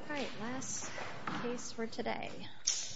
Alright, last piece for today. Alright, let's do this.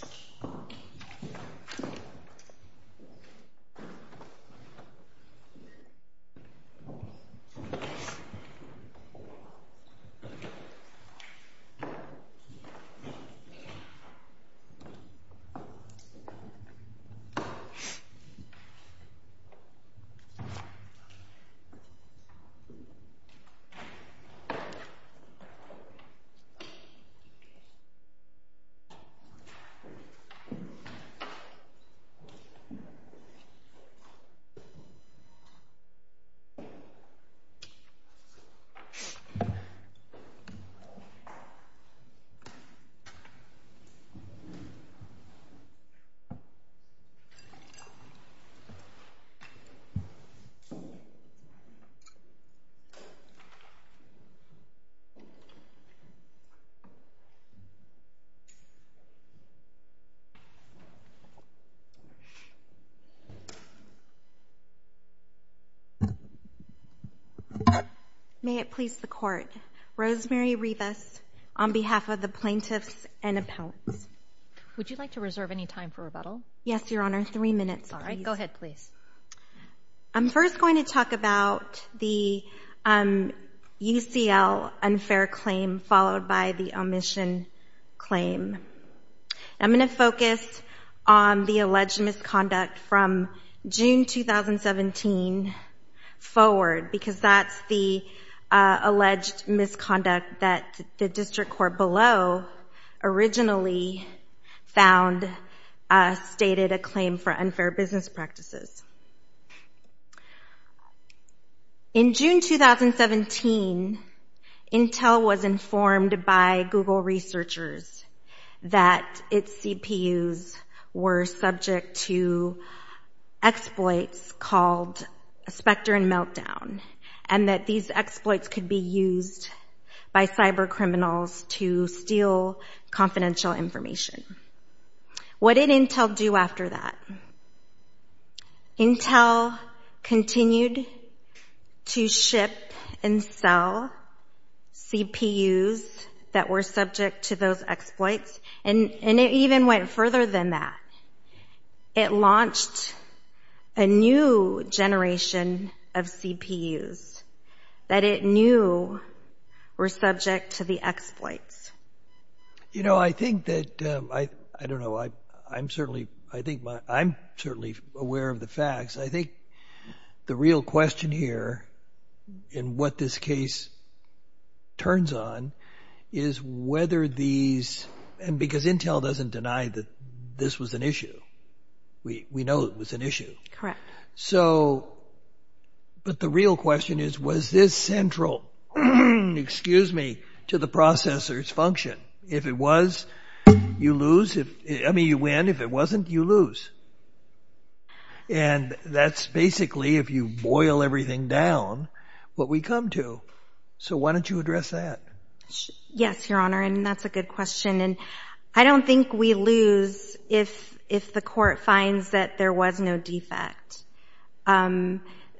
May it please the Court, Rosemary Rivas on behalf of the plaintiffs and appellants. Would you like to reserve any time for rebuttal? Yes, Your Honor. Three minutes, please. Alright, go ahead, please. I'm first going to talk about the UCL unfair claim followed by the omission claim. I'm going to focus on the alleged misconduct from June 2017 forward because that's the found stated a claim for unfair business practices. In June 2017, Intel was informed by Google researchers that its CPUs were subject to exploits called Spectre and Meltdown, and that these exploits could be used by cyber criminals to steal confidential information. What did Intel do after that? Intel continued to ship and sell CPUs that were subject to those exploits, and it even went further than that. It launched a new generation of CPUs that it knew were subject to the exploits. You know, I think that, I don't know, I'm certainly aware of the facts. I think the real question here in what this case turns on is whether these, and because we know it was an issue. Correct. So, but the real question is was this central, excuse me, to the processor's function? If it was, you lose. I mean, you win. If it wasn't, you lose. And that's basically, if you boil everything down, what we come to. So why don't you address that? Yes, Your Honor, and that's a good question. And I don't think we lose if the court finds that there was no defect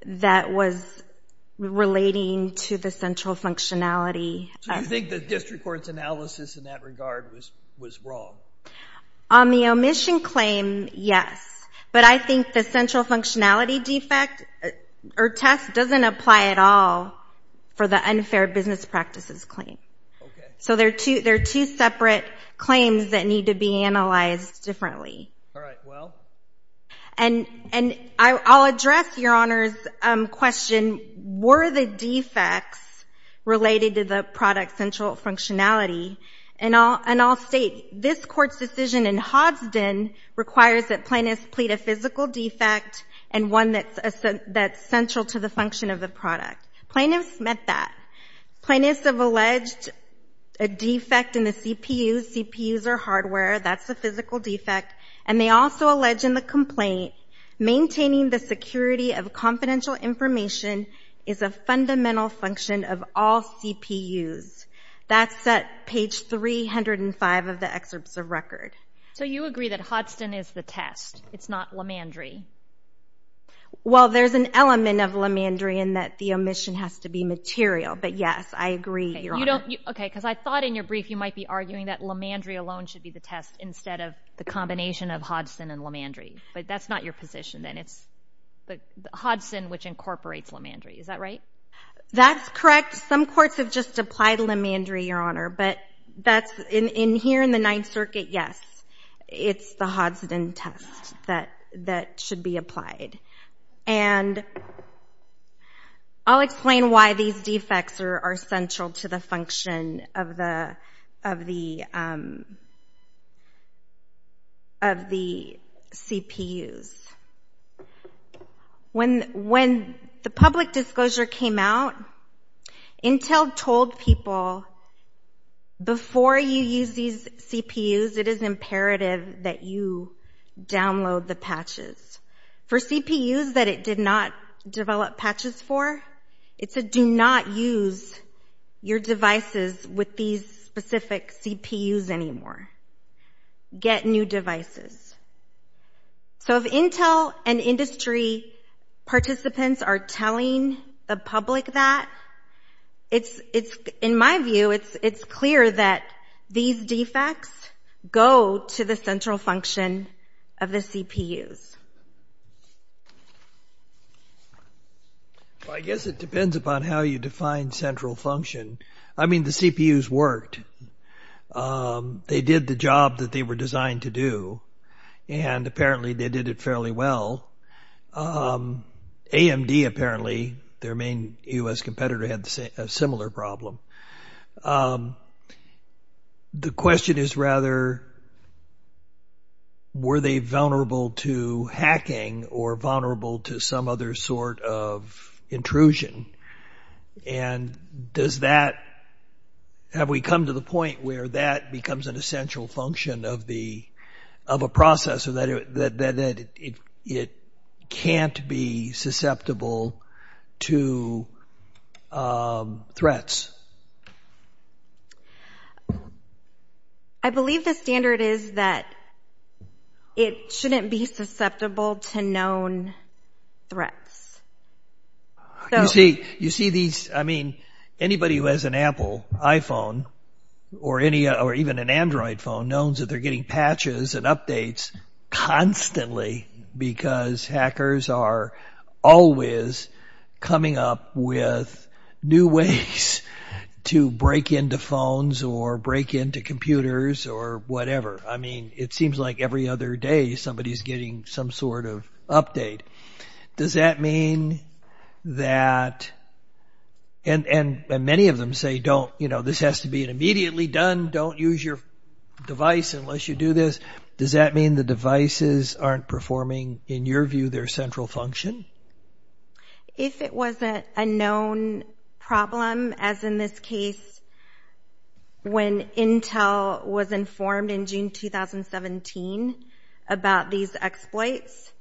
that was relating to the central functionality. So you think the district court's analysis in that regard was wrong? On the omission claim, yes. But I think the central functionality defect or test doesn't apply at all for the unfair business practices claim. Okay. So there are two separate claims that need to be analyzed differently. All right. Well? And I'll address Your Honor's question, were the defects related to the product's central functionality? And I'll state, this Court's decision in Hodgsdon requires that plaintiffs plead a physical defect and one that's central to the function of the product. Plaintiffs met that. Plaintiffs have alleged a defect in the CPUs. CPUs are hardware. That's the physical defect. And they also allege in the complaint, maintaining the security of confidential information is a fundamental function of all CPUs. That's at page 305 of the excerpts of record. So you agree that Hodgsdon is the test? It's not Lemandry? Well, there's an element of Lemandry in that the omission has to be material. But yes, I agree, Your Honor. Okay. Because I thought in your brief you might be arguing that Lemandry alone should be the test instead of the combination of Hodgsdon and Lemandry. But that's not your position, then. It's Hodgsdon, which incorporates Lemandry. Is that right? That's correct. Some courts have just applied Lemandry, Your Honor. But here in the Ninth Circuit, yes, it's the Hodgsdon test that should be applied. And I'll explain why these defects are central to the function of the CPUs. When the public disclosure came out, Intel told people, before you use these CPUs, it is imperative that you download the patches. For CPUs that it did not develop patches for, it said, do not use your devices with these specific CPUs anymore. Get new devices. So if Intel and industry participants are telling the public that, in my view, it's clear that these defects go to the central function of the CPUs. Well, I guess it depends upon how you define central function. I mean, the CPUs worked. They did the job that they were designed to do. And apparently, they did it fairly well. AMD, apparently, their main U.S. competitor, had a similar problem. The question is rather, were they vulnerable to hacking or vulnerable to some other sort of intrusion? And have we come to the point where that becomes an essential function of a processor, that it can't be susceptible to threats? I believe the standard is that it shouldn't be susceptible to known threats. You see these, I mean, anybody who has an Apple iPhone or even an Android phone knows that they're getting patches and updates constantly because hackers are always coming up with new ways to break into phones or break into computers or whatever. I mean, it seems like every other day, somebody's getting some sort of update. Does that mean that, and many of them say, don't, you know, this has to be immediately done, don't use your device unless you do this. Does that mean the devices aren't performing, in your view, their central function? If it was a known problem, as in this case, when Intel was informed in June 2017 about these exploits,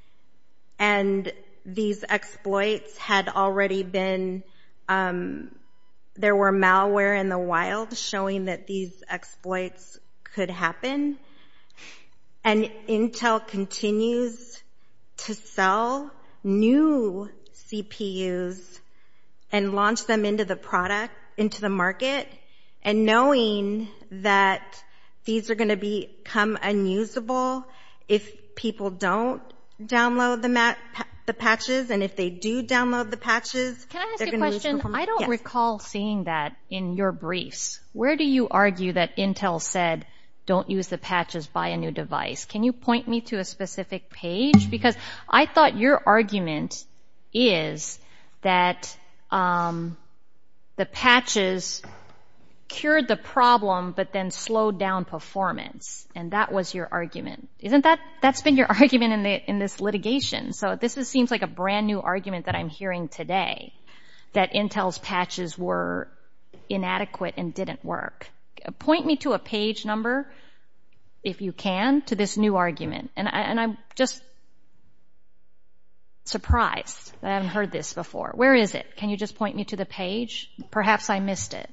and these exploits had already been, there were malware in the wild showing that these exploits could happen, and Intel continues to sell new CPUs and launch them into the product, into the market, and knowing that these are going to become unusable if people don't download the patches, and if they do download the patches, they're going to lose performance. Can I ask you a question? I don't recall seeing that in your briefs. Where do you argue that Intel said, don't use the patches, buy a new device? Can you point me to a specific page? Because I thought your argument is that the patches cured the problem, but then slowed down performance, and that was your argument. Isn't that, that's been your argument in this litigation, so this seems like a brand new argument that I'm hearing today, that Intel's patches were inadequate and didn't work. Point me to a page number, if you can, to this new argument, and I'm just surprised that I haven't heard this before. Where is it? Can you just point me to the page? Perhaps I missed it.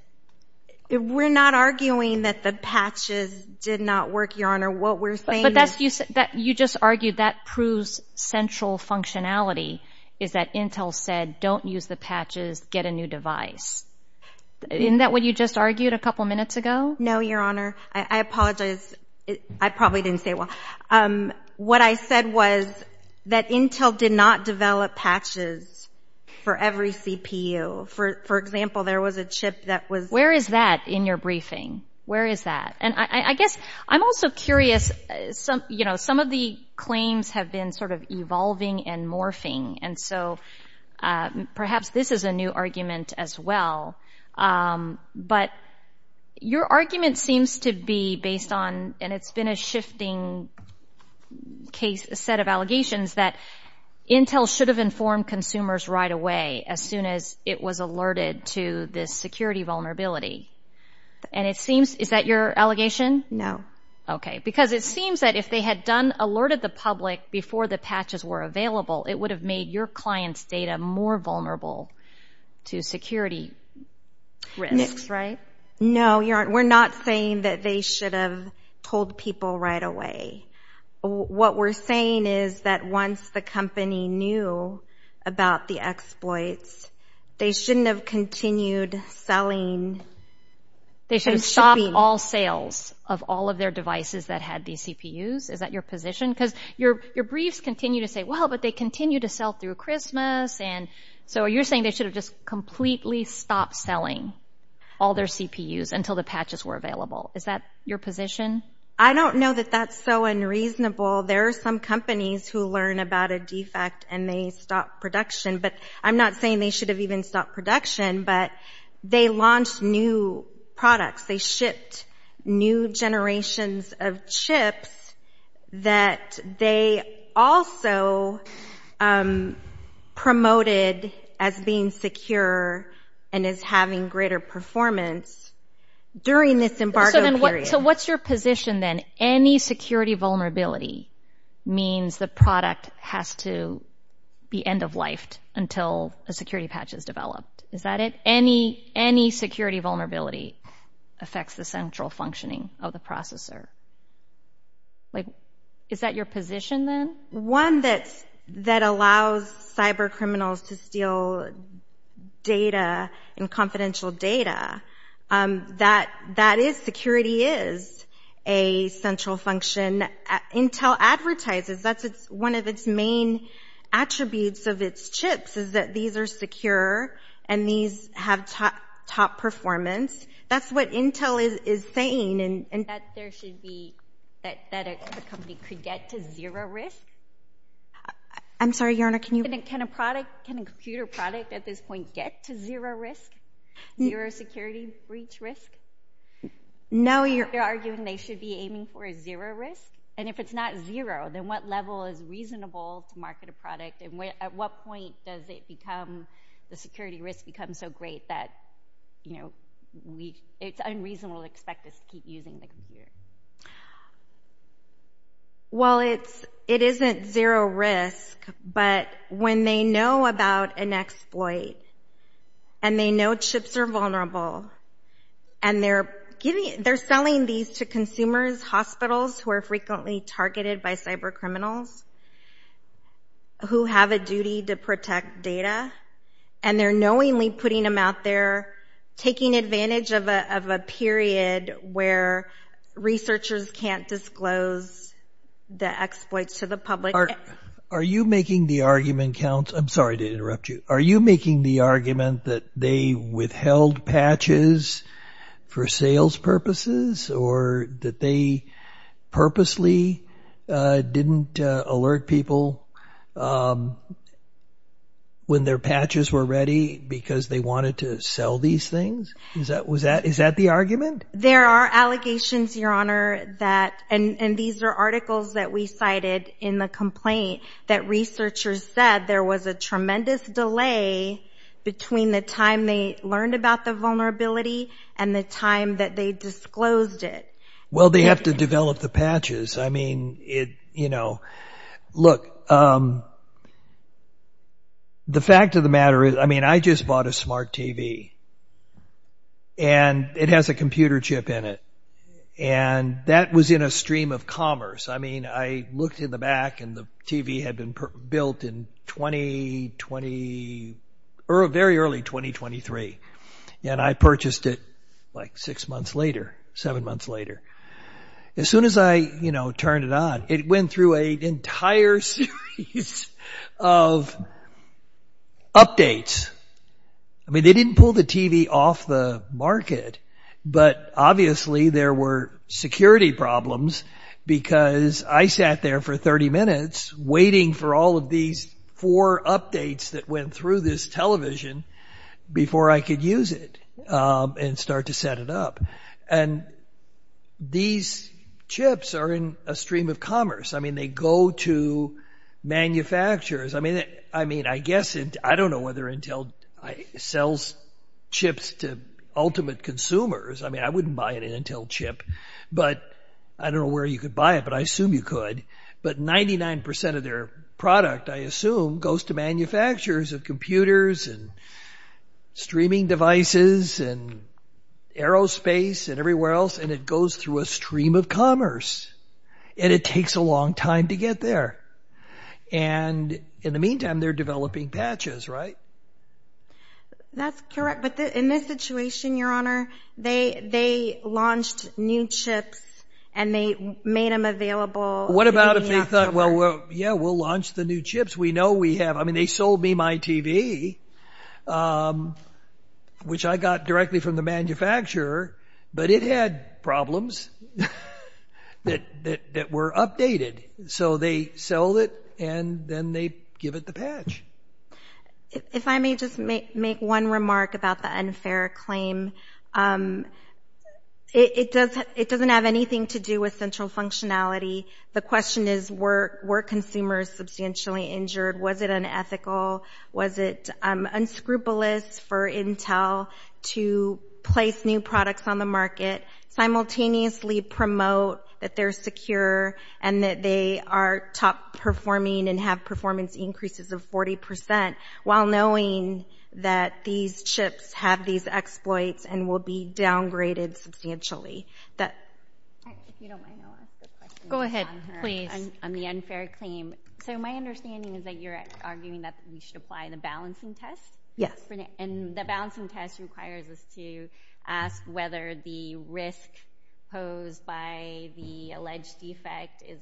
We're not arguing that the patches did not work, Your Honor. What we're saying is— But that's, you just argued that proves central functionality, is that Intel said, don't use the patches, get a new device. Isn't that what you just argued a couple minutes ago? No, Your Honor. I apologize. I probably didn't say it well. What I said was that Intel did not develop patches for every CPU. For example, there was a chip that was— Where is that in your briefing? Where is that? And I guess I'm also curious, you know, some of the claims have been sort of evolving and morphing, and so perhaps this is a new argument as well. But your argument seems to be based on, and it's been a shifting set of allegations, that Intel should have informed consumers right away as soon as it was alerted to this security vulnerability. And it seems—is that your allegation? No. Okay, because it seems that if they had alerted the public before the patches were available, it would have made your client's data more vulnerable to security risks. No, Your Honor. We're not saying that they should have told people right away. What we're saying is that once the company knew about the exploits, they shouldn't have continued selling. They should have stopped all sales of all of their devices that had these CPUs. Is that your position? Because your briefs continue to say, well, but they continue to sell through Christmas, and so you're saying they should have just completely stopped selling all their CPUs until the patches were available. Is that your position? I don't know that that's so unreasonable. There are some companies who learn about a defect and they stop production. But I'm not saying they should have even stopped production, but they launched new products. They shipped new generations of chips that they also promoted as being secure and as having greater performance during this embargo period. So what's your position then? Any security vulnerability means the product has to be end-of-life until a security patch is developed. Is that it? Any security vulnerability affects the central functioning of the processor. Is that your position then? One that allows cybercriminals to steal data and confidential data, that is security is a central function. Intel advertises that one of its main attributes of its chips is that these are secure and these have top performance. That's what Intel is saying. That there should be, that a company could get to zero risk? I'm sorry, Your Honor, can you? Can a product, can a computer product at this point get to zero risk, zero security breach risk? No. You're arguing they should be aiming for a zero risk? And if it's not zero, then what level is reasonable to market a product and at what point does the security risk become so great that it's unreasonable to expect us to keep using the computer? Well, it isn't zero risk, but when they know about an exploit and they know chips are vulnerable and they're selling these to consumers, hospitals, who are frequently targeted by cybercriminals, who have a duty to protect data, and they're knowingly putting them out there, taking advantage of a period where researchers can't disclose the exploits to the public. Are you making the argument that they withheld patches for sales purposes or that they purposely didn't alert people when their patches were ready because they wanted to sell these things? Is that the argument? There are allegations, Your Honor, that, and these are articles that we cited in the complaint, that researchers said there was a tremendous delay between the time they learned about the vulnerability and the time that they disclosed it. Well, they have to develop the patches. I mean, look, the fact of the matter is, I mean, I just bought a smart TV and it has a computer chip in it, and that was in a stream of commerce. I mean, I looked in the back and the TV had been built in 2020, very early 2023, and I purchased it like six months later, seven months later. As soon as I turned it on, it went through an entire series of updates. I mean, they didn't pull the TV off the market, but obviously there were security problems because I sat there for 30 minutes waiting for all of these four updates that went through this television before I could use it and start to set it up. And these chips are in a stream of commerce. I mean, they go to manufacturers. I mean, I guess, I don't know whether Intel sells chips to ultimate consumers. I mean, I wouldn't buy an Intel chip, but I don't know where you could buy it, but I assume you could, but 99% of their product, I assume, goes to manufacturers of computers and streaming devices and aerospace and everywhere else, and it goes through a stream of commerce, and it takes a long time to get there. And in the meantime, they're developing patches, right? That's correct, but in this situation, Your Honor, they launched new chips and they made them available. What about if they thought, well, yeah, we'll launch the new chips. We know we have them. I mean, they sold me my TV, which I got directly from the manufacturer, but it had problems that were updated. So they sell it and then they give it the patch. If I may just make one remark about the unfair claim. It doesn't have anything to do with central functionality. The question is, were consumers substantially injured? Was it unethical? Was it unscrupulous for Intel to place new products on the market, simultaneously promote that they're secure and that they are top performing and have performance increases of 40% while knowing that these chips have these exploits and will be downgraded substantially? If you don't mind, I'll ask a question. Go ahead, please. On the unfair claim. So my understanding is that you're arguing that we should apply the balancing test? Yes. And the balancing test requires us to ask whether the risk posed by the alleged defect is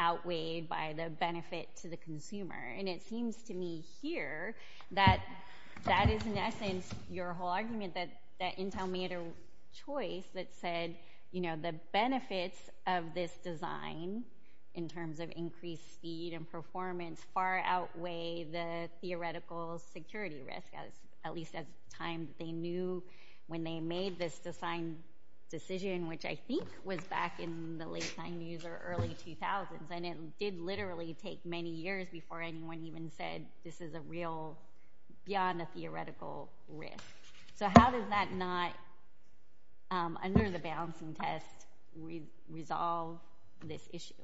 outweighed by the benefit to the consumer. And it seems to me here that that is, in essence, your whole argument, that Intel made a choice that said the benefits of this design in terms of increased speed and performance far outweigh the theoretical security risk, at least at the time they knew when they made this design decision, which I think was back in the late 90s or early 2000s. And it did literally take many years before anyone even said this is a real, beyond a theoretical risk. So how does that not, under the balancing test, resolve this issue?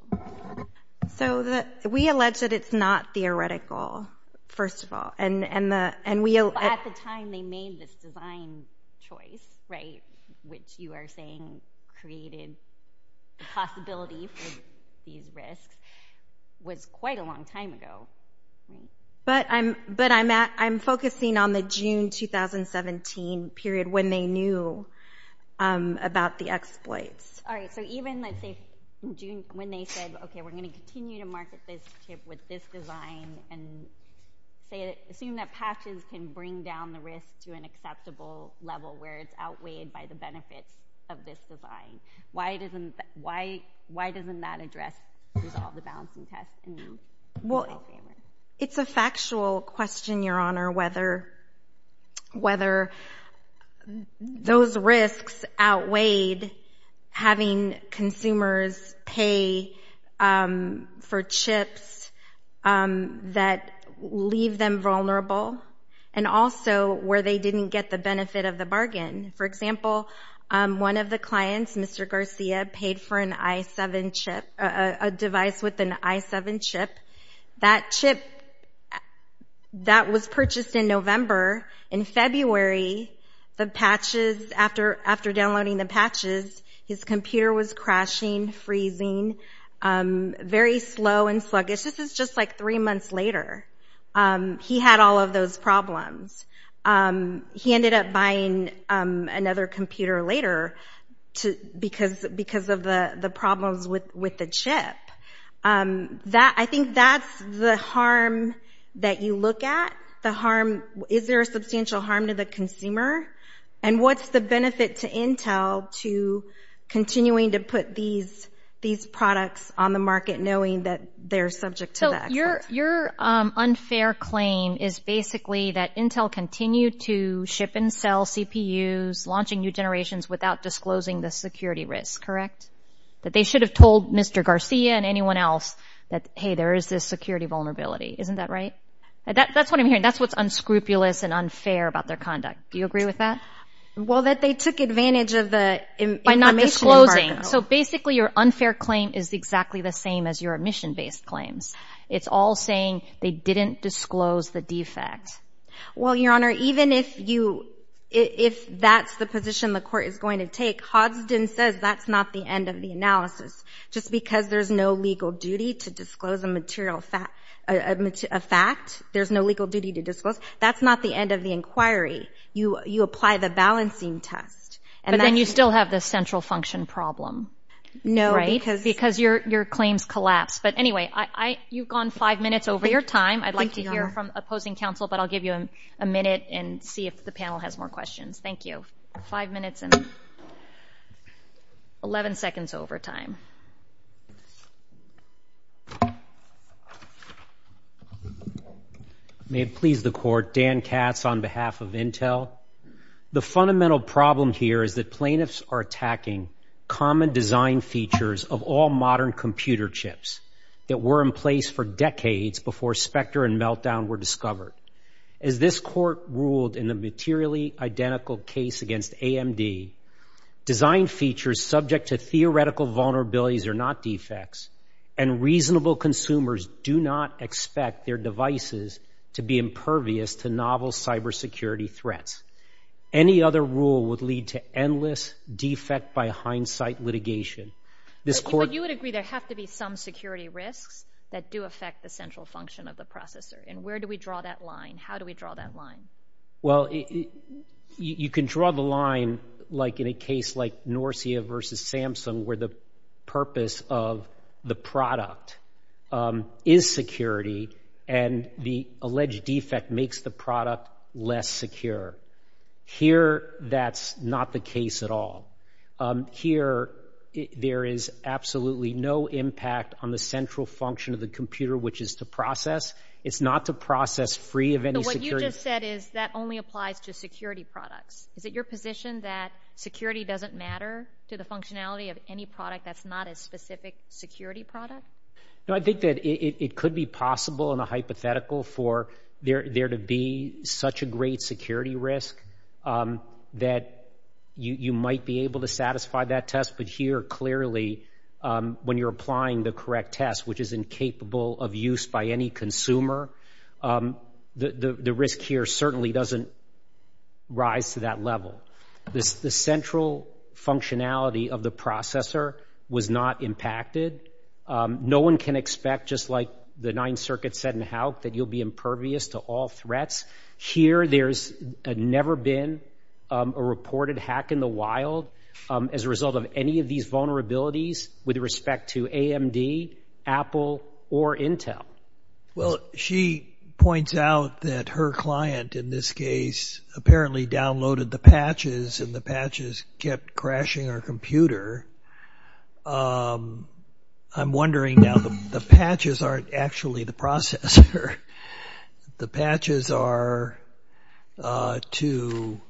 So we allege that it's not theoretical, first of all. At the time they made this design choice, right, which you are saying created the possibility for these risks, was quite a long time ago. But I'm focusing on the June 2017 period when they knew about the exploits. All right. So even, let's say, when they said, okay, we're going to continue to market this chip with this design and assume that patches can bring down the risk to an acceptable level where it's outweighed by the benefits of this design, why doesn't that address, resolve the balancing test? Well, it's a factual question, Your Honor, whether those risks outweighed having consumers pay for chips that leave them vulnerable and also where they didn't get the benefit of the bargain. For example, one of the clients, Mr. Garcia, paid for an i7 chip, a device with an i7 chip. That chip, that was purchased in November. In February, the patches, after downloading the patches, his computer was crashing, freezing, very slow and sluggish. This is just like three months later. He had all of those problems. He ended up buying another computer later because of the problems with the chip. I think that's the harm that you look at. The harm, is there a substantial harm to the consumer? And what's the benefit to Intel to continuing to put these products on the market knowing that they're subject to the exploit? Your unfair claim is basically that Intel continued to ship and sell CPUs, launching new generations without disclosing the security risk, correct? That they should have told Mr. Garcia and anyone else that, hey, there is this security vulnerability. Isn't that right? That's what I'm hearing. That's what's unscrupulous and unfair about their conduct. Do you agree with that? Well, that they took advantage of the emission market. By not disclosing. So basically, your unfair claim is exactly the same as your emission-based claims. It's all saying they didn't disclose the defect. Well, Your Honor, even if that's the position the court is going to take, Hodgson says that's not the end of the analysis. Just because there's no legal duty to disclose a fact, there's no legal duty to disclose, that's not the end of the inquiry. You apply the balancing test. But then you still have the central function problem, right? Because your claims collapse. But anyway, you've gone five minutes over your time. I'd like to hear from opposing counsel, but I'll give you a minute and see if the panel has more questions. Thank you. Five minutes and 11 seconds over time. May it please the Court. Dan Katz on behalf of Intel. The fundamental problem here is that plaintiffs are attacking common design features of all modern computer chips that were in place for decades before Spectre and Meltdown were discovered. As this Court ruled in the materially identical case against AMD, design features subject to theoretical vulnerabilities are not defects, and reasonable consumers do not expect their devices to be impervious to novel cybersecurity threats. Any other rule would lead to endless defect by hindsight litigation. But you would agree there have to be some security risks that do affect the central function of the processor, and where do we draw that line? How do we draw that line? Well, you can draw the line like in a case like Norcia versus Samsung where the purpose of the product is security and the alleged defect makes the product less secure. Here that's not the case at all. Here there is absolutely no impact on the central function of the computer which is to process. It's not to process free of any security. So what you just said is that only applies to security products. Is it your position that security doesn't matter to the functionality of any product that's not a specific security product? No, I think that it could be possible and a hypothetical for there to be such a great security risk that you might be able to satisfy that test, but here clearly when you're applying the correct test which is incapable of use by any consumer, the risk here certainly doesn't rise to that level. The central functionality of the processor was not impacted. No one can expect just like the Ninth Circuit said in HALC that you'll be impervious to all threats. Here there's never been a reported hack in the wild as a result of any of these vulnerabilities with respect to AMD, Apple, or Intel. Well, she points out that her client in this case apparently downloaded the patches and the patches kept crashing her computer. I'm wondering now the patches aren't actually the processor. The patches are to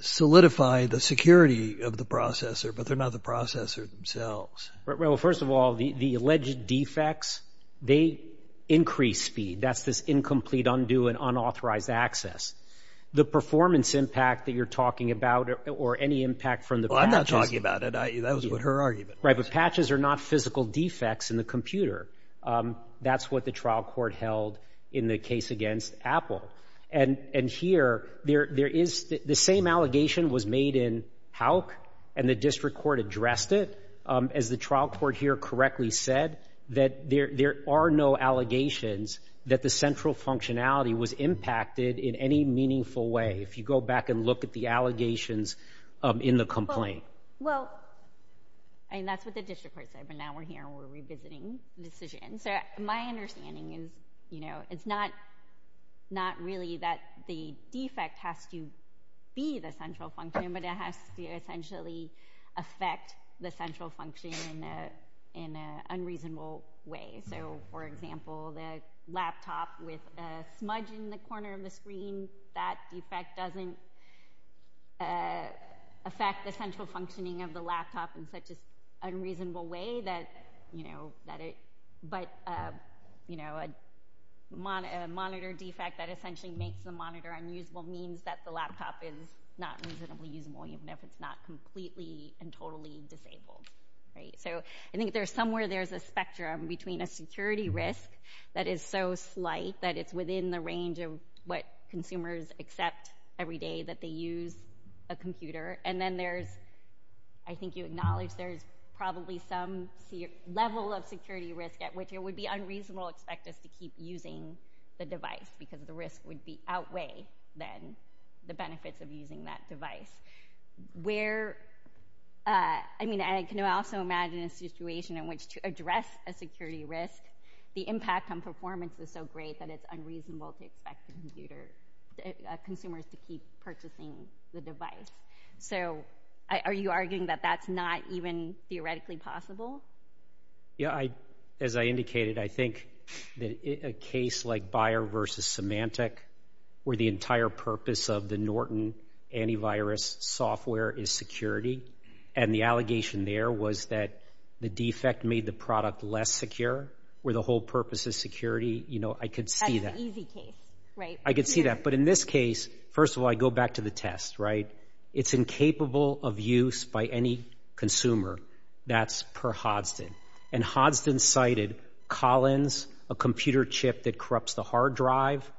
solidify the security of the processor, but they're not the processor themselves. Well, first of all, the alleged defects, they increase speed. That's this incomplete, undue, and unauthorized access. The performance impact that you're talking about or any impact from the patches... Well, I'm not talking about it. That was her argument. Right, but patches are not physical defects in the computer. That's what the trial court held in the case against Apple. And here, the same allegation was made in HALC and the district court addressed it. As the trial court here correctly said, that there are no allegations that the central functionality was impacted in any meaningful way. If you go back and look at the allegations in the complaint. Well, and that's what the district court said, but now we're here and we're revisiting the decision. So my understanding is, you know, it's not really that the defect has to be the central function, but it has to essentially affect the central function in an unreasonable way. So, for example, the laptop with a smudge in the corner of the screen, that defect doesn't affect the central functioning of the laptop in such an unreasonable way that, you know, that it... But, you know, a monitor defect that essentially makes the monitor unusable means that the laptop is not reasonably usable, even if it's not completely and totally disabled, right? So I think there's somewhere there's a spectrum between a security risk that is so slight that it's within the range of what consumers accept every day that they use a computer, and then there's, I think you acknowledge, there's probably some level of security risk at which it would be unreasonable expect us to keep using the device because the risk would outweigh then the benefits of using that device. Where, I mean, I can also imagine a situation in which to address a security risk, the impact on performance is so great that it's unreasonable to expect consumers to keep purchasing the device. So are you arguing that that's not even theoretically possible? Yeah, as I indicated, I think that a case like Buyer v. Symantec where the entire purpose of the Norton antivirus software is security, and the allegation there was that the defect made the product less secure, where the whole purpose is security, you know, I could see that. That's an easy case, right? I could see that, but in this case, first of all, I go back to the test, right? It's incapable of use by any consumer. That's per Hodgson. And Hodgson cited Collins, a computer chip that corrupts the hard drive,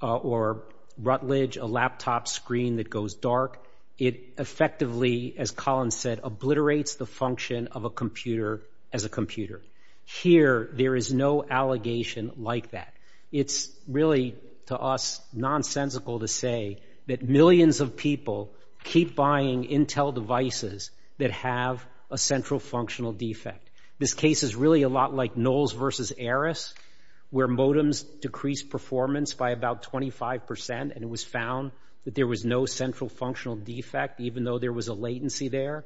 or Rutledge, a laptop screen that goes dark. It effectively, as Collins said, obliterates the function of a computer as a computer. Here, there is no allegation like that. It's really, to us, nonsensical to say that millions of people keep buying Intel devices that have a central functional defect. This case is really a lot like Knowles v. Ares, where modems decreased performance by about 25%, and it was found that there was no central functional defect, even though there was a latency there.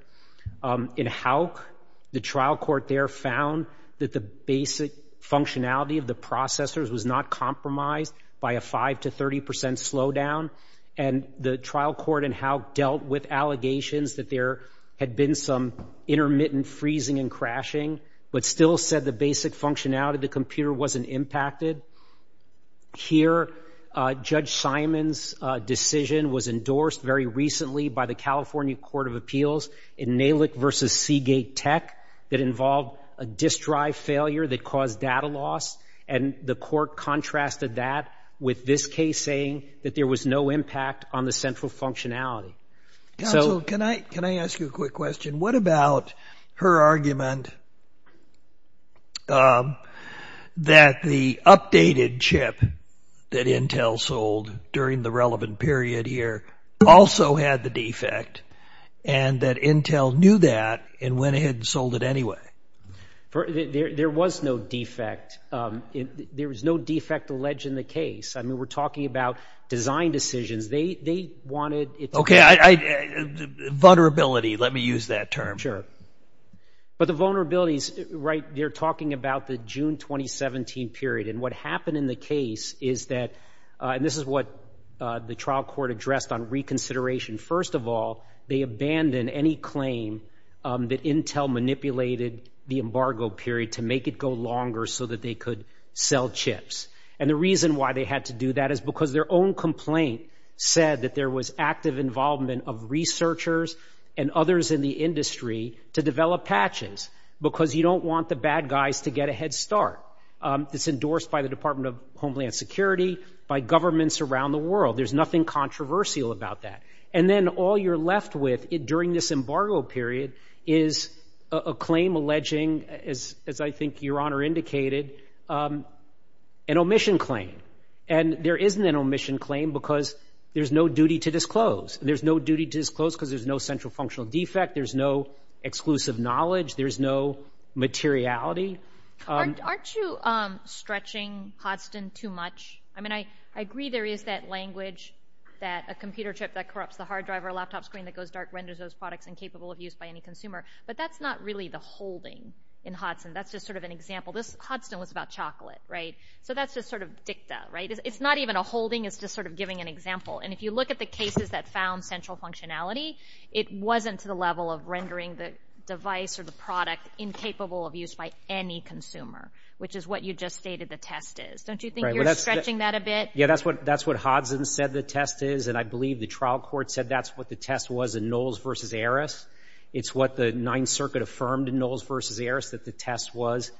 In Hauk, the trial court there found that the basic functionality of the processors was not compromised by a 5% to 30% slowdown, and the trial court in Hauk dealt with allegations that there had been some intermittent freezing and crashing, but still said the basic functionality of the computer wasn't impacted. Here, Judge Simon's decision was endorsed very recently by the California Court of Appeals in Nalick v. Seagate Tech that involved a disk drive failure that caused data loss, and the court contrasted that with this case, saying that there was no impact on the central functionality. Counsel, can I ask you a quick question? What about her argument that the updated chip that Intel sold during the relevant period here also had the defect, and that Intel knew that and went ahead and sold it anyway? There was no defect. There was no defect alleged in the case. I mean, we're talking about design decisions. They wanted it to be... Okay, vulnerability, let me use that term. Sure. But the vulnerabilities, right, you're talking about the June 2017 period, and what happened in the case is that, and this is what the trial court addressed on reconsideration. First of all, they abandoned any claim that Intel manipulated the embargo period to make it go longer so that they could sell chips, and the reason why they had to do that is because their own complaint said that there was active involvement of researchers and others in the industry to develop patches, because you don't want the bad guys to get a head start. It's endorsed by the Department of Homeland Security, by governments around the world. There's nothing controversial about that. And then all you're left with during this embargo period is a claim alleging, as I think Your Honor indicated, an omission claim. And there isn't an omission claim because there's no duty to disclose. There's no duty to disclose because there's no central functional defect. There's no exclusive knowledge. There's no materiality. Aren't you stretching Hodson too much? I mean, I agree there is that language that a computer chip that corrupts the hard drive or a laptop screen that goes dark renders those products incapable of use by any consumer, but that's not really the holding in Hodson. That's just sort of an example. Hodson was about chocolate, right? So that's just sort of dicta, right? It's not even a holding. It's just sort of giving an example. And if you look at the cases that found central functionality, it wasn't to the level of rendering the device or the product incapable of use by any consumer, which is what you just stated the test is. Don't you think you're stretching that a bit? Yeah, that's what Hodson said the test is, and I believe the trial court said that's what the test was in Knowles v. Aris. It's what the Ninth Circuit affirmed in Knowles v. Aris, that the test was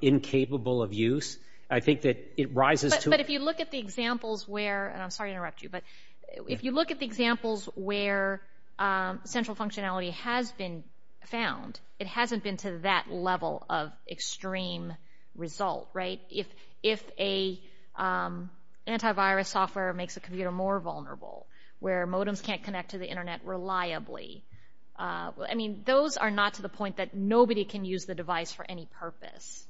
incapable of use. I think that it rises to... But if you look at the examples where, and I'm sorry to interrupt you, but if you look at the examples where central functionality has been found, it hasn't been to that level of extreme result, right? If an antivirus software makes a computer more vulnerable, where modems can't connect to the Internet reliably, I mean, those are not to the point that nobody can use the device for any purpose.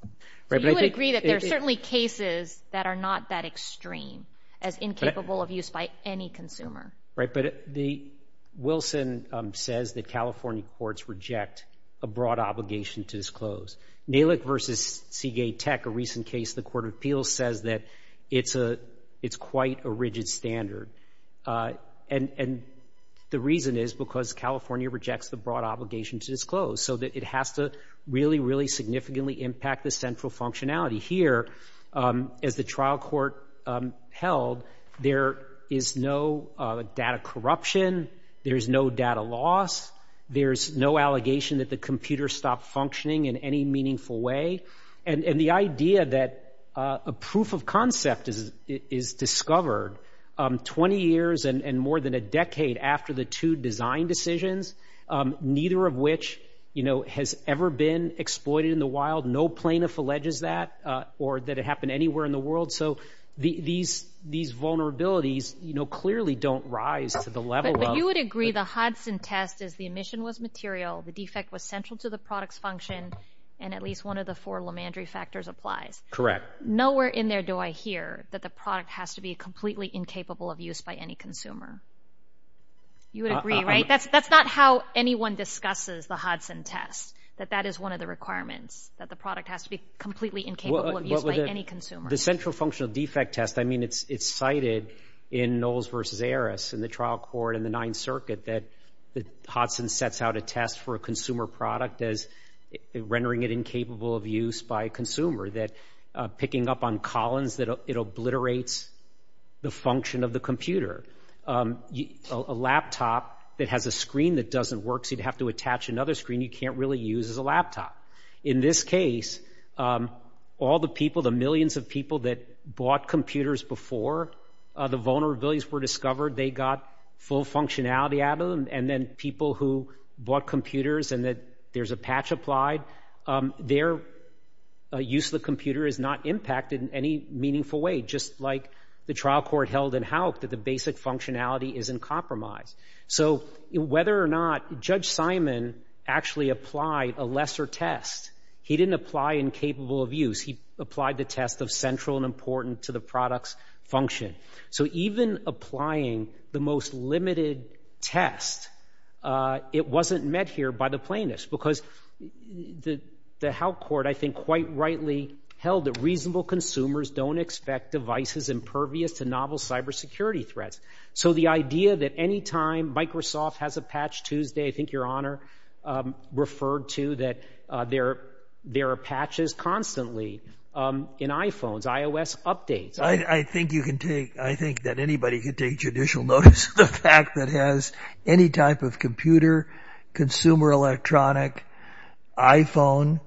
You would agree that there are certainly cases that are not that extreme as incapable of use by any consumer. Right, but Wilson says that California courts reject a broad obligation to disclose. Nalick v. Seagate Tech, a recent case in the Court of Appeals, says that it's quite a rigid standard, and the reason is because California rejects the broad obligation to disclose, so that it has to really, really significantly impact the central functionality. Here, as the trial court held, there is no data corruption, there's no data loss, there's no allegation that the computer stopped functioning in any meaningful way, and the idea that a proof of concept is discovered 20 years and more than a decade after the two design decisions, neither of which has ever been exploited in the wild, no plaintiff alleges that, or that it happened anywhere in the world, so these vulnerabilities clearly don't rise to the level of... But you would agree the Hodson test is the emission was material, the defect was central to the product's function, and at least one of the four Lemandry factors applies. Correct. Nowhere in there do I hear that the product has to be completely incapable of use by any consumer. You would agree, right? That's not how anyone discusses the Hodson test, that that is one of the requirements, that the product has to be completely incapable of use by any consumer. The central functional defect test, I mean, it's cited in Knowles v. Aris, in the trial court in the Ninth Circuit, that Hodson sets out a test for a consumer product as rendering it incapable of use by a consumer, that picking up on Collins, that it obliterates the function of the computer. A laptop that has a screen that doesn't work, so you'd have to attach another screen you can't really use as a laptop. In this case, all the people, the millions of people that bought computers before the vulnerabilities were discovered, they got full functionality out of them, and then people who bought computers and that there's a patch applied, their use of the computer is not impacted in any meaningful way, just like the trial court held in Houck that the basic functionality is in compromise. So whether or not Judge Simon actually applied a lesser test, he didn't apply incapable of use, he applied the test of central and important to the product's function. So even applying the most limited test, it wasn't met here by the plaintiffs, because the Houck court, I think, quite rightly held that reasonable consumers don't expect devices impervious to novel cybersecurity threats. So the idea that any time Microsoft has a patch Tuesday, I think Your Honor referred to that there are patches constantly in iPhones, iOS updates. I think that anybody could take judicial notice of the fact that has any type of computer, consumer electronic, iPhone,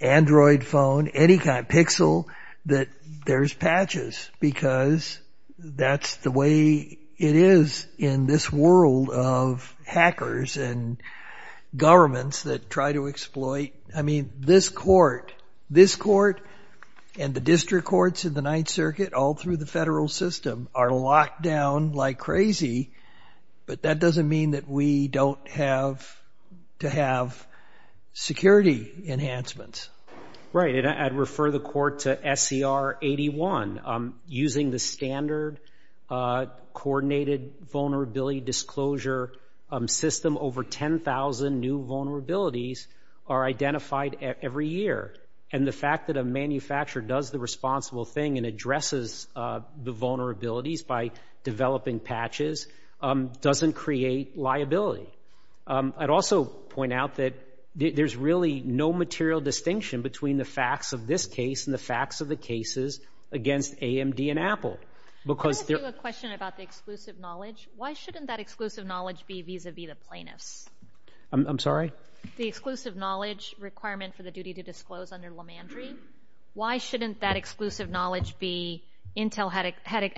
Android phone, any kind, pixel, that there's patches, because that's the way it is in this world of hackers and governments that try to exploit. I mean, this court, this court and the district courts in the Ninth Circuit all through the federal system are locked down like crazy, but that doesn't mean that we don't have to have security enhancements. Right, and I'd refer the court to SCR 81. Using the standard coordinated vulnerability disclosure system, over 10,000 new vulnerabilities are identified every year, and the fact that a manufacturer does the responsible thing and addresses the vulnerabilities by developing patches doesn't create liability. I'd also point out that there's really no material distinction between the facts of this case and the facts of the cases against AMD and Apple. Can I ask you a question about the exclusive knowledge? Why shouldn't that exclusive knowledge be vis-a-vis the plaintiffs? I'm sorry? The exclusive knowledge requirement for the duty to disclose under Lemandry, why shouldn't that exclusive knowledge be Intel had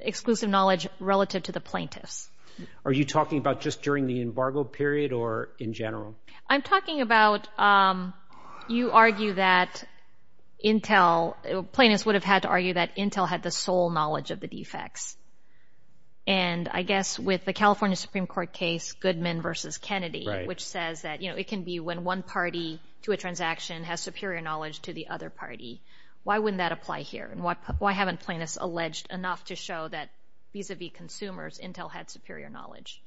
exclusive knowledge relative to the plaintiffs? Are you talking about just during the embargo period or in general? I'm talking about you argue that Intel, plaintiffs would have had to argue that Intel had the sole knowledge of the defects, and I guess with the California Supreme Court case, Goodman versus Kennedy, which says that it can be when one party to a transaction has superior knowledge to the other party. Why wouldn't that apply here, and why haven't plaintiffs alleged enough to show that vis-a-vis consumers, Intel had superior knowledge?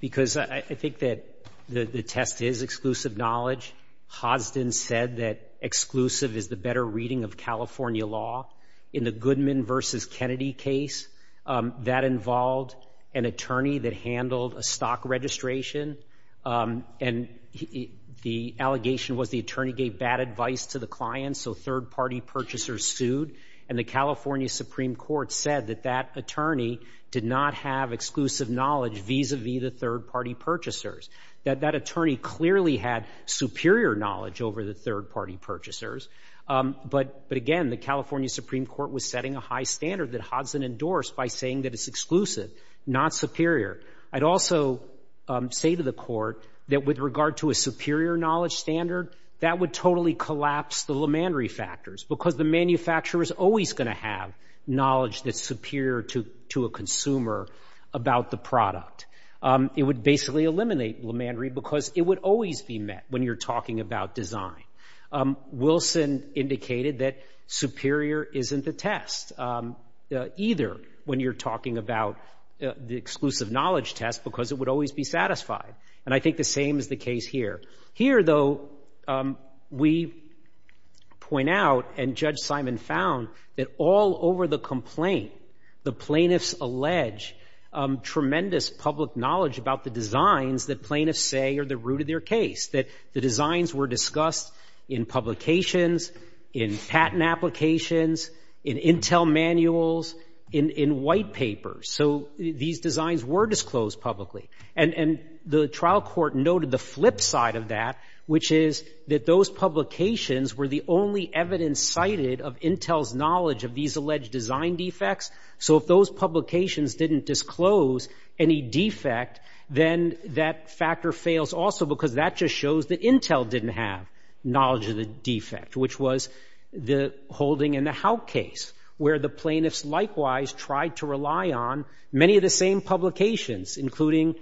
Because I think that the test is exclusive knowledge. Hosdin said that exclusive is the better reading of California law. In the Goodman versus Kennedy case, that involved an attorney that handled a stock registration, and the allegation was the attorney gave bad advice to the client, so third-party purchasers sued, and the California Supreme Court said that that attorney did not have exclusive knowledge vis-a-vis the third-party purchasers. That attorney clearly had superior knowledge over the third-party purchasers, but again, the California Supreme Court was setting a high standard that Hosdin endorsed by saying that it's exclusive, not superior. I'd also say to the Court that with regard to a superior knowledge standard, that would totally collapse the LeMandry factors, because the manufacturer is always going to have knowledge that's superior to a consumer about the product. It would basically eliminate LeMandry because it would always be met when you're talking about design. Wilson indicated that superior isn't the test, either when you're talking about the exclusive knowledge test because it would always be satisfied, and I think the same is the case here. Here, though, we point out, and Judge Simon found, that all over the complaint, the plaintiffs allege tremendous public knowledge about the designs that plaintiffs say are the root of their case, that the designs were discussed in publications, in patent applications, in intel manuals, in white papers. So these designs were disclosed publicly, and the trial court noted the flip side of that, which is that those publications were the only evidence cited of intel's knowledge of these alleged design defects, so if those publications didn't disclose any defect, then that factor fails also because that just shows that intel didn't have knowledge of the defect, which was the Holding and the Howe case, where the plaintiffs likewise tried to rely on many of the same publications, including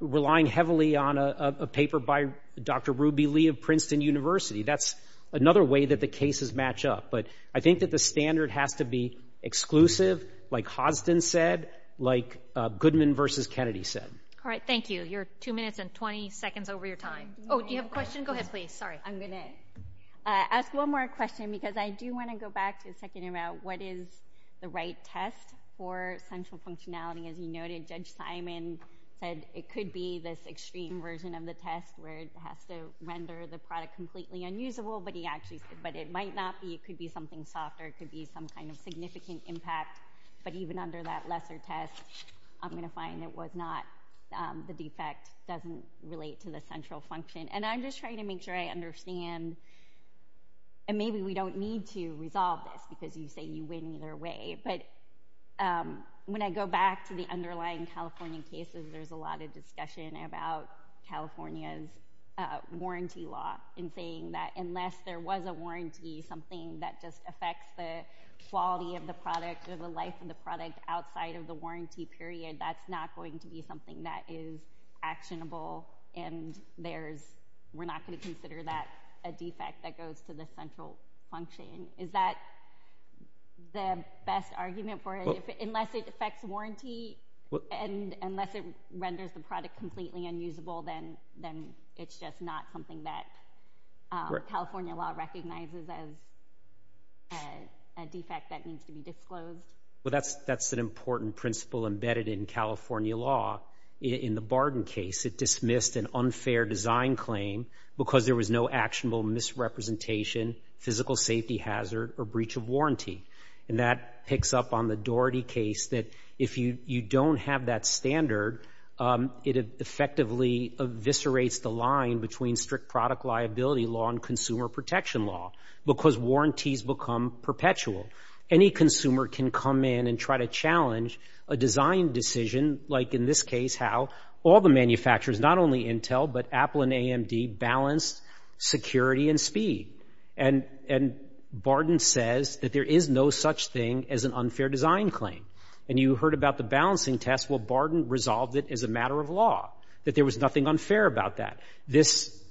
relying heavily on a paper by Dr. Ruby Lee of Princeton University. That's another way that the cases match up, but I think that the standard has to be exclusive, like Hodgson said, like Goodman v. Kennedy said. All right, thank you. You're 2 minutes and 20 seconds over your time. Oh, do you have a question? Go ahead, please. Sorry. I'm going to ask one more question because I do want to go back to checking out what is the right test for central functionality. As you noted, Judge Simon said it could be this extreme version of the test where it has to render the product completely unusable, but it might not be. It could be something softer. It could be some kind of significant impact, but even under that lesser test, I'm going to find it was not. The defect doesn't relate to the central function, and I'm just trying to make sure I understand, and maybe we don't need to resolve this because you say you win either way, but when I go back to the underlying California cases, there's a lot of discussion about California's warranty law and saying that unless there was a warranty, something that just affects the quality of the product or the life of the product outside of the warranty period, that's not going to be something that is actionable, and we're not going to consider that a defect that goes to the central function. Is that the best argument for it? Unless it affects warranty and unless it renders the product completely unusable, then it's just not something that California law recognizes as a defect that needs to be disclosed. Well, that's an important principle embedded in California law. In the Barden case, it dismissed an unfair design claim because there was no actionable misrepresentation. Physical safety hazard or breach of warranty. And that picks up on the Doherty case that if you don't have that standard, it effectively eviscerates the line between strict product liability law and consumer protection law because warranties become perpetual. Any consumer can come in and try to challenge a design decision, like in this case how all the manufacturers, not only Intel but Apple and AMD, balanced security and speed. And Barden says that there is no such thing as an unfair design claim. And you heard about the balancing test. Well, Barden resolved it as a matter of law, that there was nothing unfair about that. This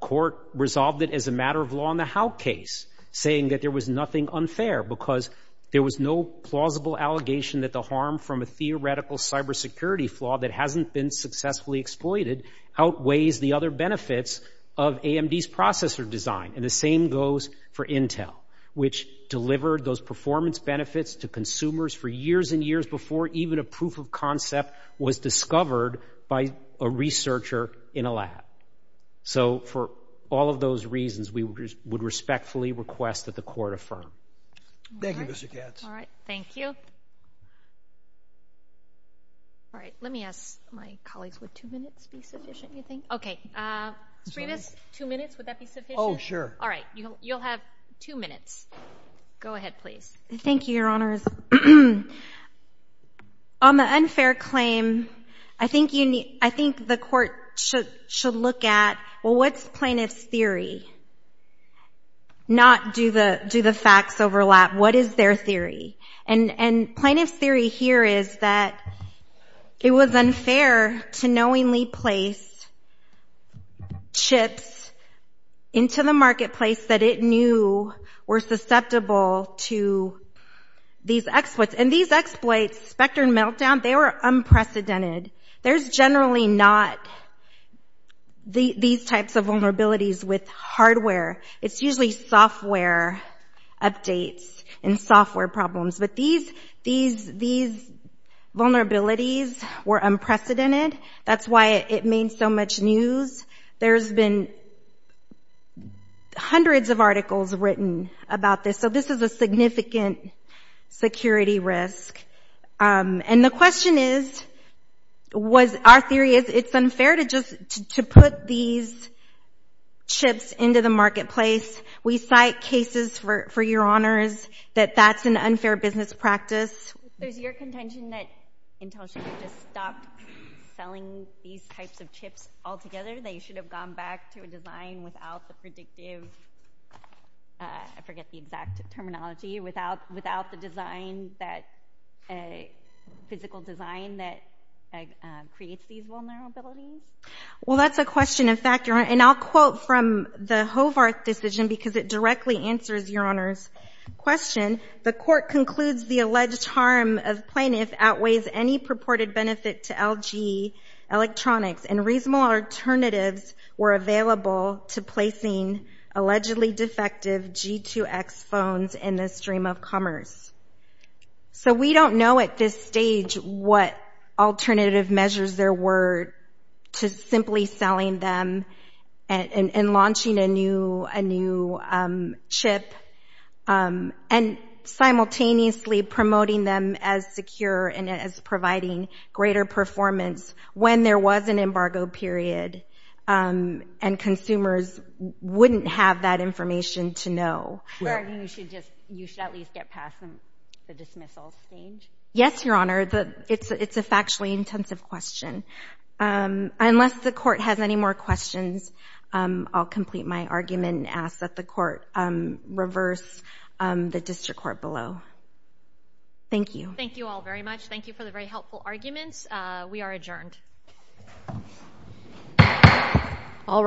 court resolved it as a matter of law in the Howe case, saying that there was nothing unfair because there was no plausible allegation that the harm from a theoretical cybersecurity flaw that hasn't been successfully exploited outweighs the other benefits of AMD's processor design. And the same goes for Intel, which delivered those performance benefits to consumers for years and years before even a proof of concept was discovered by a researcher in a lab. So for all of those reasons, we would respectfully request that the court affirm. Thank you, Mr. Katz. All right, thank you. All right, let me ask my colleagues, would two minutes be sufficient, you think? Okay, Srinivas, two minutes, would that be sufficient? Oh, sure. All right, you'll have two minutes. Go ahead, please. Thank you, Your Honors. On the unfair claim, I think the court should look at, well, what's plaintiff's theory? Not do the facts overlap. What is their theory? And plaintiff's theory here is that it was unfair to knowingly place chips into the marketplace that it knew were susceptible to these exploits. And these exploits, Spectre and Meltdown, they were unprecedented. There's generally not these types of vulnerabilities with hardware. It's usually software updates and software problems. But these vulnerabilities were unprecedented. That's why it made so much news. There's been hundreds of articles written about this. So this is a significant security risk. And the question is, was our theory, it's unfair to put these chips into the marketplace? We cite cases, for Your Honors, that that's an unfair business practice. There's your contention that Intel should have just stopped selling these types of chips altogether, that you should have gone back to a design without the predictive, I forget the exact terminology, without the design, physical design, that creates these vulnerabilities? Well, that's a question of fact, Your Honor. And I'll quote from the Hovarth decision because it directly answers Your Honor's question. The court concludes the alleged harm of plaintiff outweighs any purported benefit to LG Electronics and reasonable alternatives were available to placing allegedly defective G2X phones in the stream of commerce. So we don't know at this stage what alternative measures there were to simply selling them and launching a new chip and simultaneously promoting them as secure and as providing greater performance when there was an embargo period and consumers wouldn't have that information to know. Or you should at least get past the dismissal stage? Yes, Your Honor, it's a factually intensive question. Unless the court has any more questions, I'll complete my argument and ask that the court reverse the district court below. Thank you. Thank you all very much. Thank you for the very helpful arguments. We are adjourned. All rise.